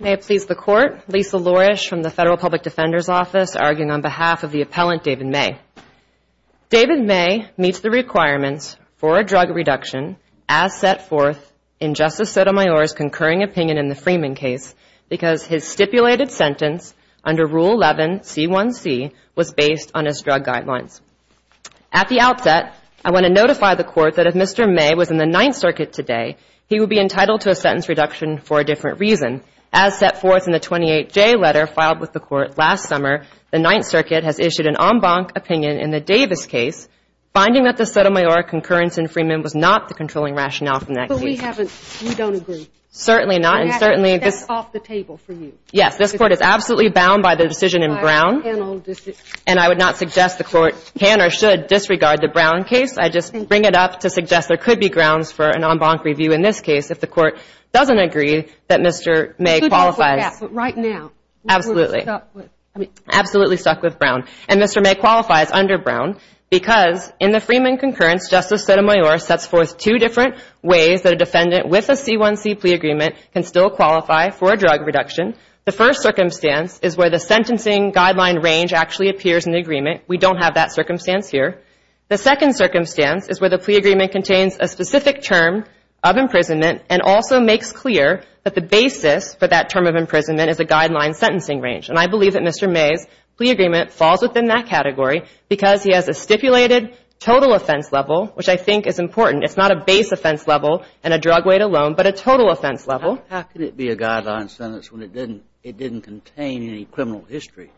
May it please the Court, Lisa Lourish from the Federal Public Defender's Office arguing on behalf of the appellant David May. David May meets the requirements for a drug reduction as set forth in Justice Sotomayor's concurring opinion in the Freeman case because his stipulated sentence under Rule 11, C1C, was based on his drug guidelines. At the outset, I want to notify the Court that if Mr. May was in the Ninth Circuit today, he would be entitled to a sentence reduction for a different reason. As set forth in the 28J letter filed with the Court last summer, the Ninth Circuit has issued an en banc opinion in the Davis case, finding that the Sotomayor concurrence in Freeman was not the controlling rationale from that case. But we haven't, we don't agree. Certainly not, and certainly this That's off the table for you. Yes, this Court is absolutely bound by the decision in Brown, and I would not suggest the Court can or should disregard the Brown case. I just bring it up to suggest there could be grounds for an en banc review in this case if the Court doesn't agree that Mr. May qualifies. It should be put to pass, but right now, we're stuck with Absolutely, absolutely stuck with Brown. And Mr. May qualifies under Brown because in the Freeman concurrence, Justice Sotomayor sets forth two different ways that a defendant with a C1C plea agreement can still qualify for a drug reduction. The first circumstance is where the sentencing guideline range actually appears in the agreement. We don't have that circumstance here. The second circumstance is where the plea agreement contains a specific term of imprisonment and also makes clear that the basis for that term of imprisonment is a guideline sentencing range. And I believe that Mr. May's plea agreement falls within that category because he has a stipulated total offense level, which I think is important. It's not a base offense level and a drug weight alone, but a total offense level. How can it be a guideline sentence when it didn't contain any criminal history?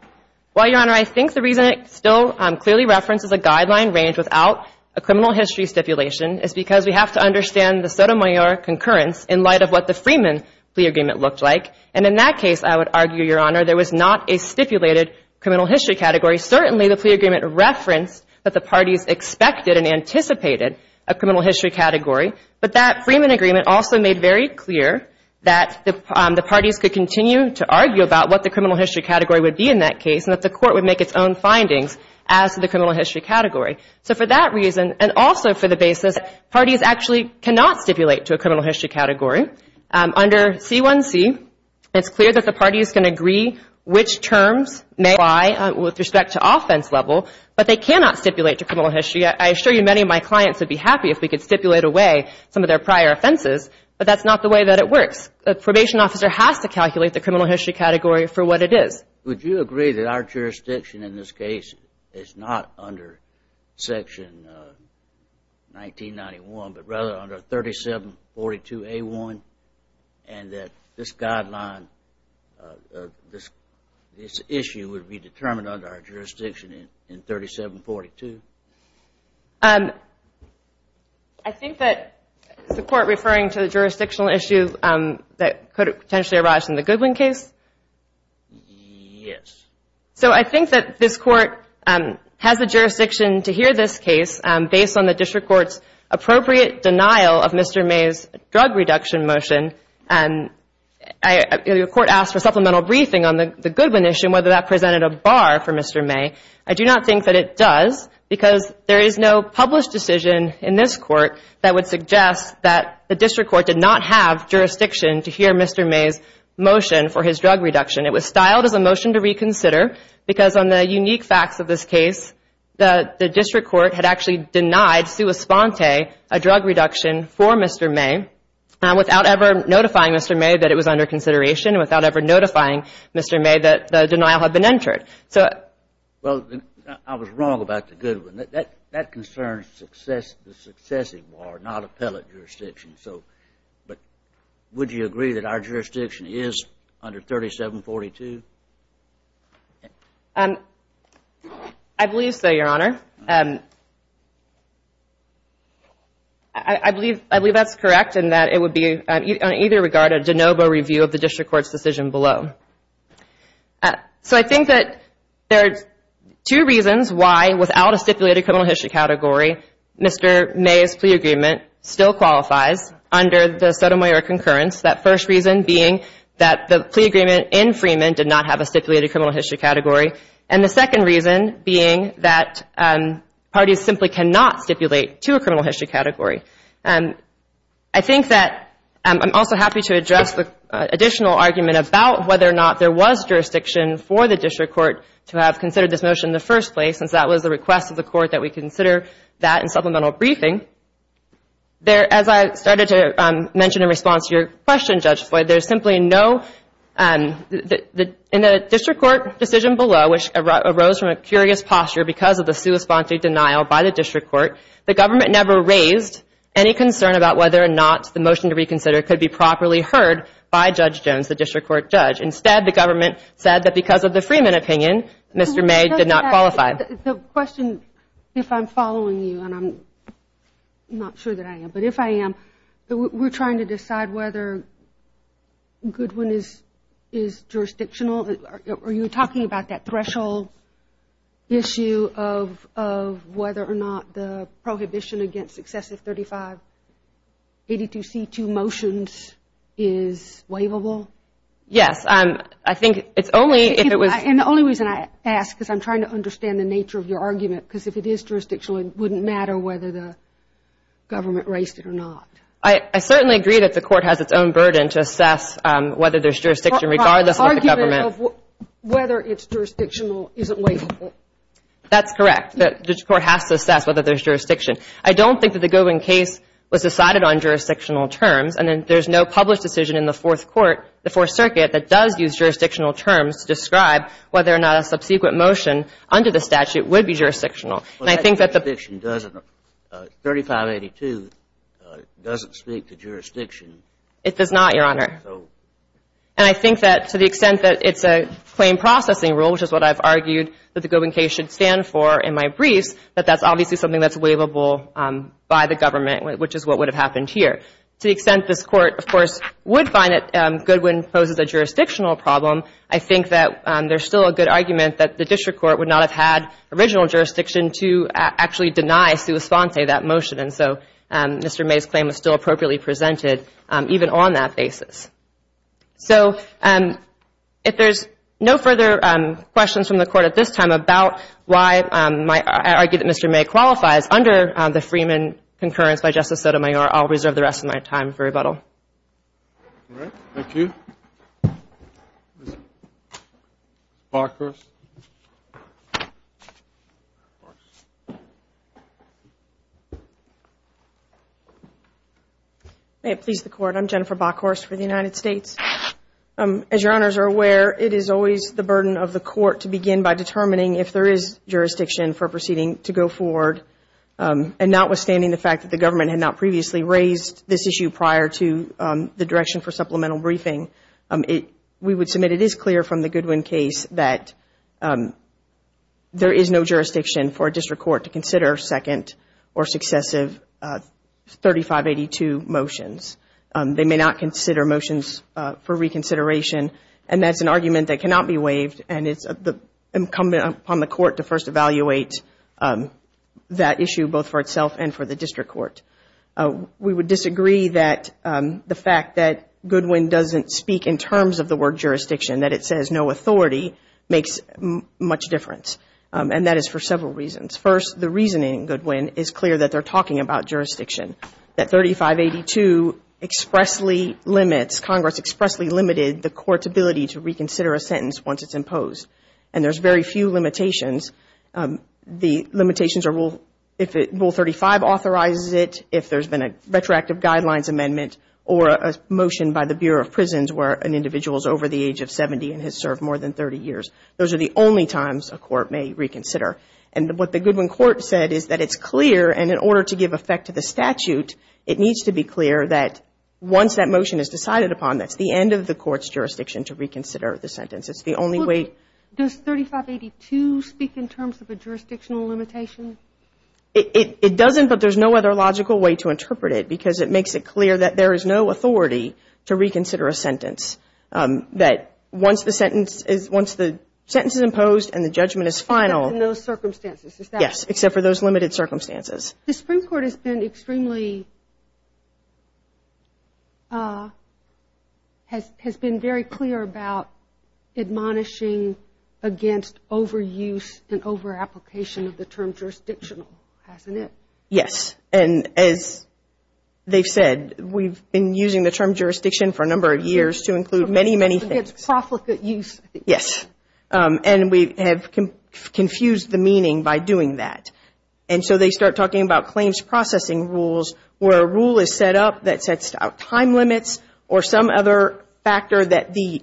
Well, Your Honor, I think the reason it still clearly references a guideline range without a criminal history stipulation is because we have to understand the Sotomayor concurrence in light of what the Freeman plea agreement looked like. And in that case, I would argue, Your Honor, there was not a stipulated criminal history category. Certainly, the plea agreement referenced that the parties expected and anticipated a criminal history category, but that Freeman agreement also made very clear that the parties could continue to argue about what the criminal history category would be in that case and that the court would make its own findings as to the criminal history category. So for that reason, and also for the basis, parties actually cannot stipulate to a criminal history category. Under C1C, it's clear that the parties can agree which terms may apply with respect to offense level, but they cannot stipulate to criminal history. I assure you my clients would be happy if we could stipulate away some of their prior offenses, but that's not the way that it works. A probation officer has to calculate the criminal history category for what it is. Would you agree that our jurisdiction in this case is not under Section 1991, but rather under 3742A1, and that this guideline, this issue would be determined under our jurisdiction in 3742? I think that the court referring to the jurisdictional issue that could potentially arise in the Goodwin case? Yes. So I think that this court has the jurisdiction to hear this case based on the district court's appropriate denial of Mr. May's drug reduction motion. The court asked for supplemental briefing on the Goodwin issue and whether that presented a bar for Mr. May. I do not think that it does, because there is no published decision in this court that would suggest that the district court did not have jurisdiction to hear Mr. May's motion for his drug reduction. It was styled as a motion to reconsider, because on the unique facts of this case, the district court had actually denied Sua Sponte a drug reduction for Mr. May without ever notifying Mr. May that it was under consideration, without ever notifying Mr. May that the denial had been entered. Well, I was wrong about the Goodwin. That concerns the successive bar, not appellate jurisdiction. But would you agree that our jurisdiction is under 3742? I believe so, Your Honor. I believe that's correct in that it would be, on either regard, a de novo review of the district court's decision below. So, I think that there are two reasons why, without a stipulated criminal history category, Mr. May's plea agreement still qualifies under the Sotomayor concurrence. That first reason being that the plea agreement in Freeman did not have a stipulated criminal history category, and the second reason being that parties simply cannot stipulate to a criminal history category. I think that I'm also happy to address the additional argument about whether or not there was jurisdiction for the district court to have considered this motion in the first place, since that was the request of the court that we consider that in supplemental briefing. There, as I started to mention in response to your question, Judge Floyd, there's simply no, in the district court decision below, which arose from a curious posture because of the sui sponte denial by the district court, the government never raised any concern about whether or not the motion to reconsider could be properly heard by Judge Jones, the district court judge. Instead, the government said that because of the Freeman opinion, Mr. May did not qualify. The question, if I'm following you, and I'm not sure that I am, but if I am, we're trying to decide whether Goodwin is jurisdictional? Are you talking about that threshold issue of whether or not the prohibition against successive 3582C2 motions is waivable? Yes. I think it's only if it was... And the only reason I ask, because I'm trying to understand the nature of your argument, because if it is jurisdictional, it wouldn't matter whether the government raised it or not. I certainly agree that the court has its own burden to assess whether there's jurisdiction regardless of the government. The argument of whether it's jurisdictional isn't waivable. That's correct. The district court has to assess whether there's jurisdiction. I don't think that the Goodwin case was decided on jurisdictional terms, and then there's no published decision in the Fourth Court, the Fourth Circuit, that does use jurisdictional terms to describe whether or not a subsequent motion under the statute would be jurisdictional. And I think that the... But that jurisdiction doesn't, 3582 doesn't speak to jurisdiction. It does not, Your Honor. So... And I think that to the extent that it's a claim processing rule, which is what I've argued that the Goodwin case should stand for in my briefs, that that's obviously something that's waivable by the government, which is what would have happened here. To the extent this Court, of course, would find that Goodwin poses a jurisdictional problem, I think that there's still a good argument that the district court would not have had original jurisdiction to actually deny sua sponte that motion. And so, Mr. May's claim was still appropriately presented, even on that basis. So, if there's no further questions from the Court at this time about why I argue that Mr. May qualifies under the Freeman concurrence by Justice Sotomayor, I'll reserve the rest of my time for rebuttal. Thank you. Ms. Barker. May it please the Court. I'm Jennifer Bockhorst for the United States. As Your Honors are aware, it is always the burden of the Court to begin by determining if there is jurisdiction for a proceeding to go forward. And notwithstanding the fact that the government had not previously raised this issue prior to the direction for supplemental briefing, we would submit it is clear from the Goodwin case that there is no jurisdiction for a district court to consider second or successive 3582 motions. They may not consider motions for reconsideration, and that's an argument that cannot be waived, and it's incumbent upon the Court to first evaluate that issue both for itself and for the district court. We would disagree that the fact that Goodwin doesn't speak in terms of the word jurisdiction, that it says no authority, makes much difference. And that is for several reasons. First, the reasoning in Goodwin is clear that they're talking about jurisdiction. That 3582 expressly limits, Congress expressly limited the Court's ability to reconsider a sentence once it's imposed. And there's very few limitations. The limitations are if Rule 35 authorizes it, if there's been a retroactive guidelines amendment or a motion by the Bureau of Prisons where an individual is over the age of 70 and has served more than 30 years. Those are the only times a court may reconsider. And what the Goodwin Court said is that it's clear, and in order to give effect to the statute, it needs to be clear that once that motion is decided upon, that's the end of the Court's jurisdiction to reconsider the sentence. It's the only way. Well, does 3582 speak in terms of a jurisdictional limitation? It doesn't, but there's no other logical way to interpret it because it makes it clear that there is no authority to reconsider a sentence, that once the sentence is imposed and the judgment is final. Except in those circumstances. Yes, except for those limited circumstances. The Supreme Court has been extremely, has been very clear about admonishing against overuse and overapplication of the term jurisdictional, hasn't it? Yes, and as they've said, we've been using the term jurisdiction for a number of years to include many, many things. It's profligate use. Yes, and we have confused the meaning by doing that. And so they start talking about claims processing rules where a rule is set up that sets out time limits or some other factor that the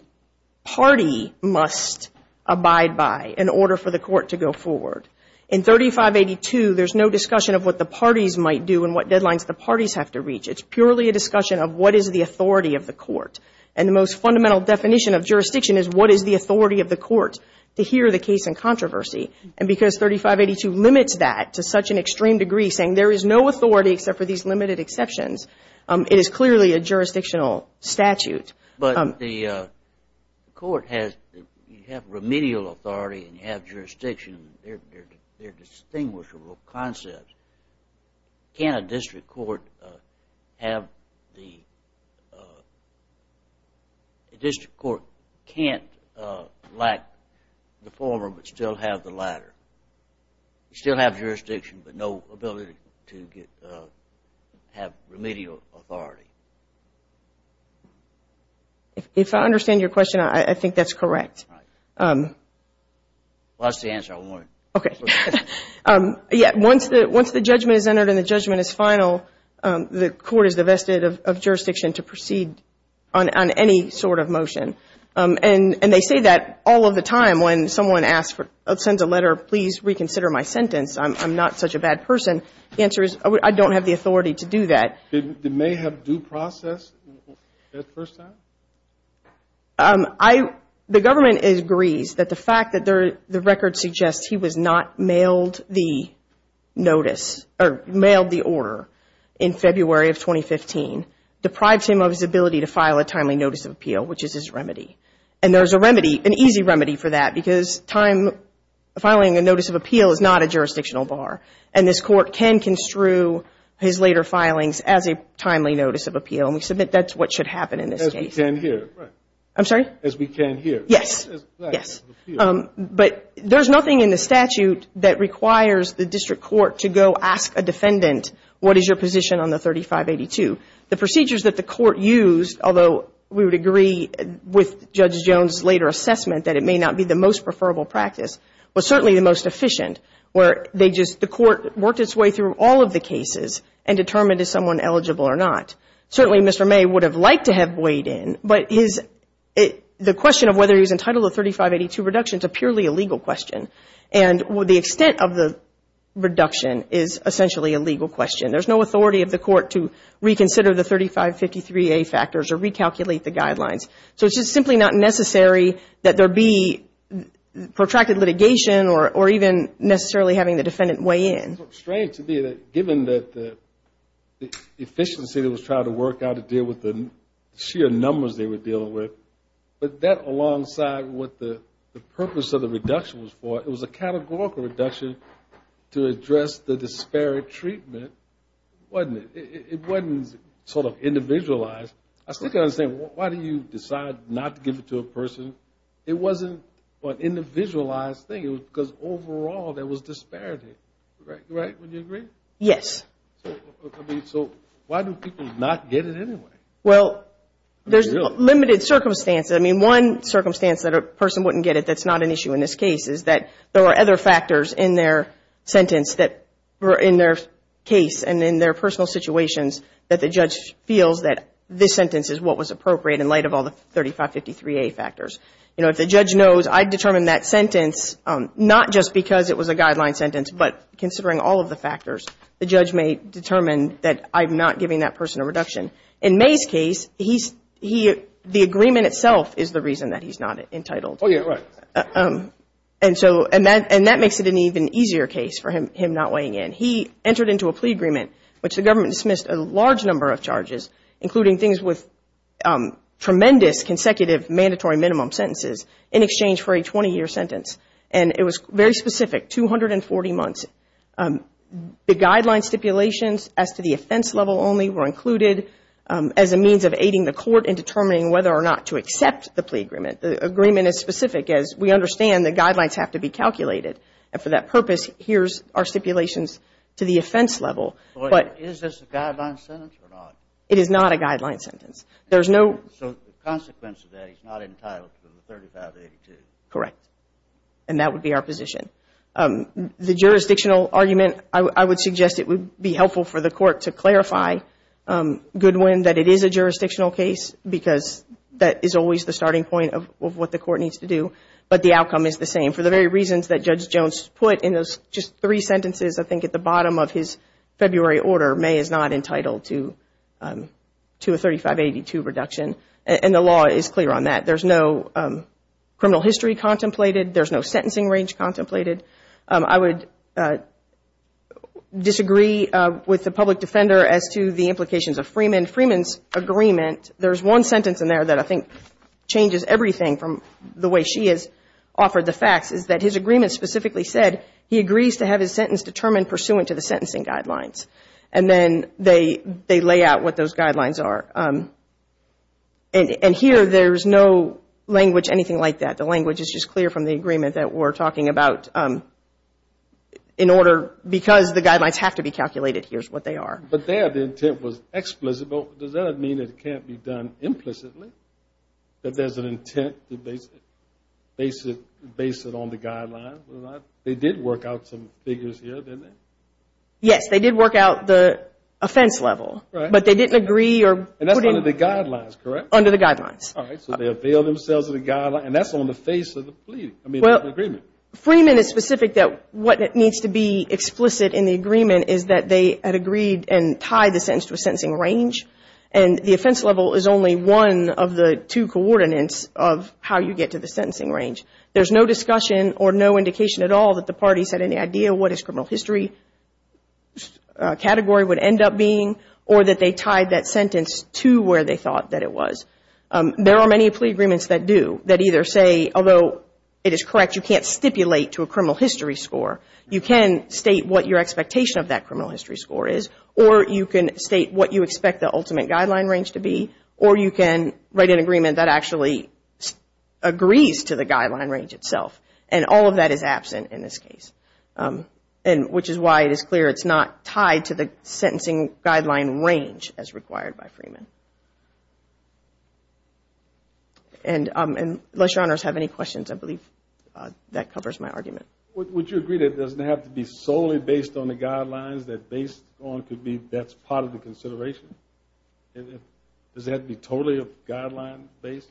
party must abide by in order for the court to go forward. In 3582, there's no discussion of what the parties might do and what deadlines the parties have to reach. It's purely a discussion of what is the authority of the court. And the most fundamental definition of jurisdiction is what is the authority of the court to hear the case in controversy. And because 3582 limits that to such an extreme degree, saying there is no authority except for these limited exceptions, it is clearly a jurisdictional statute. But the court has, you have remedial authority and you have jurisdiction. They're distinguishable concepts. Can a district court have the, a district court can't lack the former but still have the latter? Still have jurisdiction but no ability to get, have remedial authority. If I understand your question, I think that's correct. Right. Well, that's the answer I wanted. Okay. Yeah, once the judgment is entered and the judgment is final, the court is divested of jurisdiction to proceed on any sort of motion. And they say that all of the time when someone sends a letter, please reconsider my sentence, I'm not such a bad person. The answer is I don't have the authority to do that. It may have due process the first time? The government agrees that the fact that the record suggests he was not mailed the notice or mailed the order in February of 2015 deprives him of his ability to file a timely notice of appeal, which is his remedy. And there's a remedy, an easy remedy for that because filing a notice of appeal is not a jurisdictional bar. And this court can construe his later filings as a timely notice of appeal. And we submit that's what should happen in this case. As we can here. I'm sorry? As we can here. Yes. But there's nothing in the statute that requires the district court to go ask a defendant, what is your position on the 3582? The procedures that the court used, although we would agree with Judge Jones' later assessment that it may not be the most preferable practice, was certainly the most efficient where they just, the court worked its way through all of the cases and determined is someone eligible or not. Certainly Mr. May would have liked to have weighed in, but the question of whether he was entitled to 3582 reduction is a purely illegal question. And the extent of the reduction is essentially a legal question. There's no authority of the court to reconsider the 3553A factors or recalculate the guidelines. So it's just simply not necessary that there be protracted litigation or even necessarily having the defendant weigh in. It's strange to me that given the efficiency that was tried to work out to deal with the sheer numbers they were dealing with, but that alongside what the purpose of the reduction was for, it was a categorical reduction to address the disparate treatment, wasn't it? It wasn't sort of individualized. I still can't understand, why do you decide not to give it to a person? It wasn't an individualized thing because overall there was disparity, right? Wouldn't you agree? Yes. So why do people not get it anyway? Well, there's limited circumstances. I mean one circumstance that a person wouldn't get it that's not an issue in this case is that there were other factors in their sentence that were in their case and in their personal situations that the judge feels that this sentence is what was appropriate in light of all the 3553A factors. If the judge knows I determined that sentence not just because it was a guideline sentence, but considering all of the factors, the judge may determine that I'm not giving that person a reduction. In May's case, the agreement itself is the reason that he's not entitled. And that makes it an even easier case for him not weighing in. He entered into a plea agreement, which the government dismissed a large number of charges, including things with tremendous consecutive mandatory minimum sentences in exchange for a 20-year sentence. And it was very specific, 240 months. The guideline stipulations as to the offense level only were included as a means of aiding the court in determining whether or not to accept the plea agreement. The agreement is specific as we understand the guidelines have to be calculated. And for that purpose, here's our stipulations to the offense level. Is this a guideline sentence or not? It is not a guideline sentence. So the consequence of that is he's not entitled to the 3582? Correct. And that would be our position. The jurisdictional argument, I would suggest it would be helpful for the court to clarify, Goodwin, that it is a jurisdictional case because that is always the starting point of what the court needs to do. But the outcome is the same. For the very reasons that Judge Jones put in those just three sentences, I think at the bottom of his February order, May is not entitled to a 3582 reduction. And the law is clear on that. There's no criminal history contemplated. There's no sentencing range contemplated. I would disagree with the public defender as to the implications of Freeman. Freeman's agreement, there's one sentence in there that I think changes everything from the way she has offered the facts, is that his agreement specifically said he agrees to have his sentence determined pursuant to the sentencing guidelines. And then they lay out what those guidelines are. And here there's no language, anything like that. The language is just clear from the agreement that we're talking about in order, because the guidelines have to be calculated, here's what they are. But there the intent was explicit. Does that mean it can't be done implicitly, that there's an intent to base it on the guidelines? They did work out some figures here, didn't they? Yes, they did work out the offense level. But they didn't agree or put in the guidelines, correct? Under the guidelines. All right, so they availed themselves of the guidelines. And that's on the face of the plea, I mean the agreement. Freeman is specific that what needs to be explicit in the agreement is that they had agreed and tied the sentence to a sentencing range. And the offense level is only one of the two coordinates of how you get to the sentencing range. There's no discussion or no indication at all that the parties had any idea what his criminal history category would end up being or that they tied that sentence to where they thought that it was. There are many plea agreements that do, that either say, although it is correct you can't stipulate to a criminal history score, you can state what your expectation of that criminal history score is, or you can state what you expect the ultimate guideline range to be, or you can write an agreement that actually agrees to the guideline range itself. And all of that is absent in this case, which is why it is clear it's not tied to the sentencing guideline range as required by Freeman. And unless your honors have any questions, I believe that covers my argument. Would you agree that it doesn't have to be solely based on the guidelines that based on could be, that's part of the consideration? Does it have to be totally guideline based?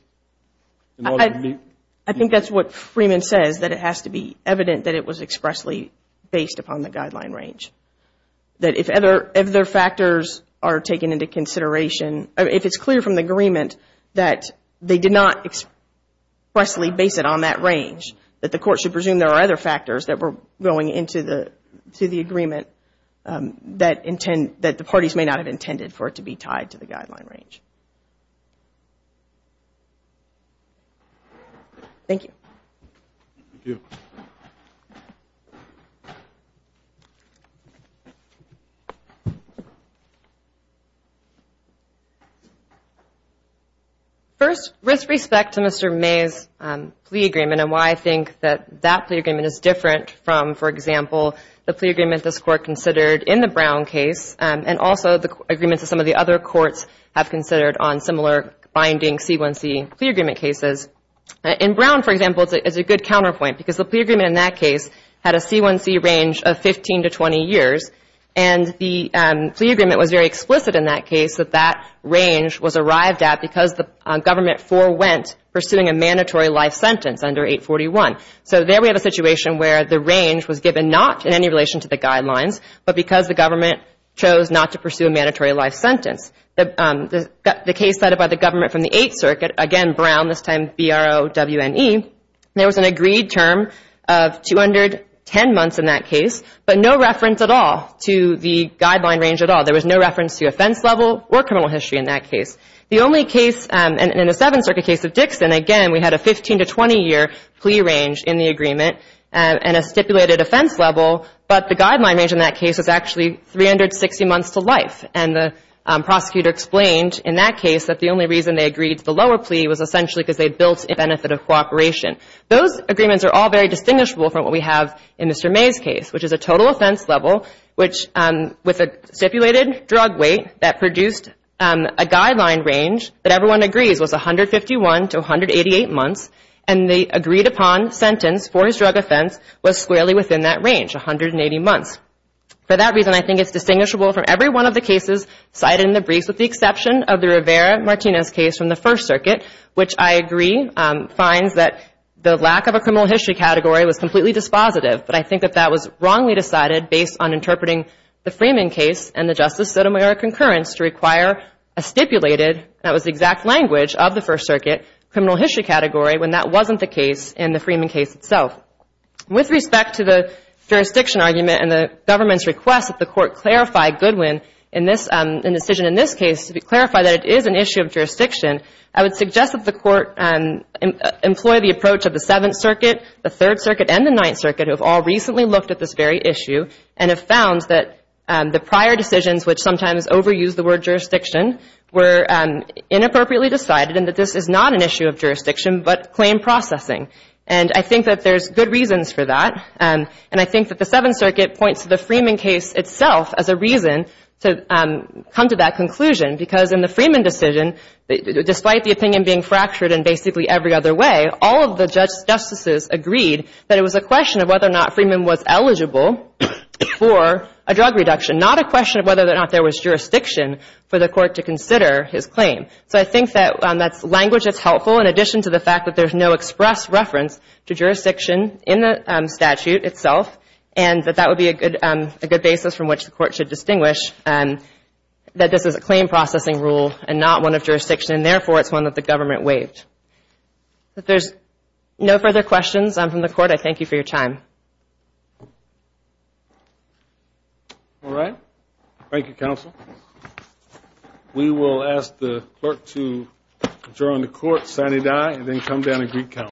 I think that's what Freeman says, that it has to be evident that it was expressly based upon the guideline range. That if other factors are taken into consideration, if it's clear from the agreement that they did not expressly base it on that range, that the court should presume there are other factors that were going into the agreement that the parties may not have intended for it to be tied to the guideline range. Thank you. First, with respect to Mr. May's plea agreement and why I think that that plea agreement is different from, for example, the plea agreement this Court considered in the Brown case, and also the agreements that some of the other courts have considered on similar binding C1C plea agreement cases. In Brown, for example, it's a good counterpoint because the plea agreement in that case had a C1C range of 15 to 20 years, and the plea agreement was very explicit in that case that that range was arrived at because the government forewent pursuing a mandatory life sentence under 841. So there we have a situation where the range was given not in any relation to the guidelines, but because the government chose not to pursue a mandatory life sentence. The case cited by the government from the Eighth Circuit, again Brown, this time BROWNE, there was an agreed term of 210 months in that case, but no reference at all to the guideline range at all. There was no reference to offense level or criminal history in that case. In the Seventh Circuit case of Dixon, again, we had a 15 to 20 year plea range in the agreement and a stipulated offense level, but the guideline range in that case was actually 360 months to life, and the prosecutor explained in that case that the only reason they agreed to the lower plea was essentially because they built a benefit of cooperation. Those agreements are all very distinguishable from what we have in Mr. May's case, which is a total offense level with a stipulated drug weight that produced a guideline range that everyone agrees was 151 to 188 months, and the agreed upon sentence for his drug offense was squarely within that range, 180 months. For that reason, I think it's distinguishable from every one of the cases cited in the briefs with the exception of the Rivera-Martinez case from the First Circuit, which I agree finds that the lack of a criminal history category was completely dispositive, but I think that that was wrongly decided based on interpreting the Freeman case and the Justice Sotomayor concurrence to require a stipulated, and that was the exact language of the First Circuit, criminal history category when that wasn't the case in the Freeman case itself. With respect to the jurisdiction argument and the government's request that the Court clarify Goodwin in this decision, in this case, to clarify that it is an issue of jurisdiction, I would suggest that the Court employ the approach of the Seventh Circuit, the Third Circuit, and the Ninth Circuit, who have all recently looked at this very issue and have found that the prior decisions, which sometimes overuse the word jurisdiction, were inappropriately decided and that this is not an issue of jurisdiction but claim processing. And I think that there's good reasons for that, and I think that the Seventh Circuit points to the Freeman case itself as a reason to come to that conclusion because in the Freeman decision, despite the opinion being fractured in basically every other way, all of the justices agreed that it was a question of whether or not Freeman was eligible for a drug reduction, not a question of whether or not there was jurisdiction for the Court to consider his claim. So I think that that's language that's helpful in addition to the fact that there's no express reference to jurisdiction in the statute itself and that that would be a good basis from which the Court should distinguish that this is a claim processing rule and not one of jurisdiction, and therefore it's one that the government waived. If there's no further questions from the Court, I thank you for your time. All right. Thank you, Counsel.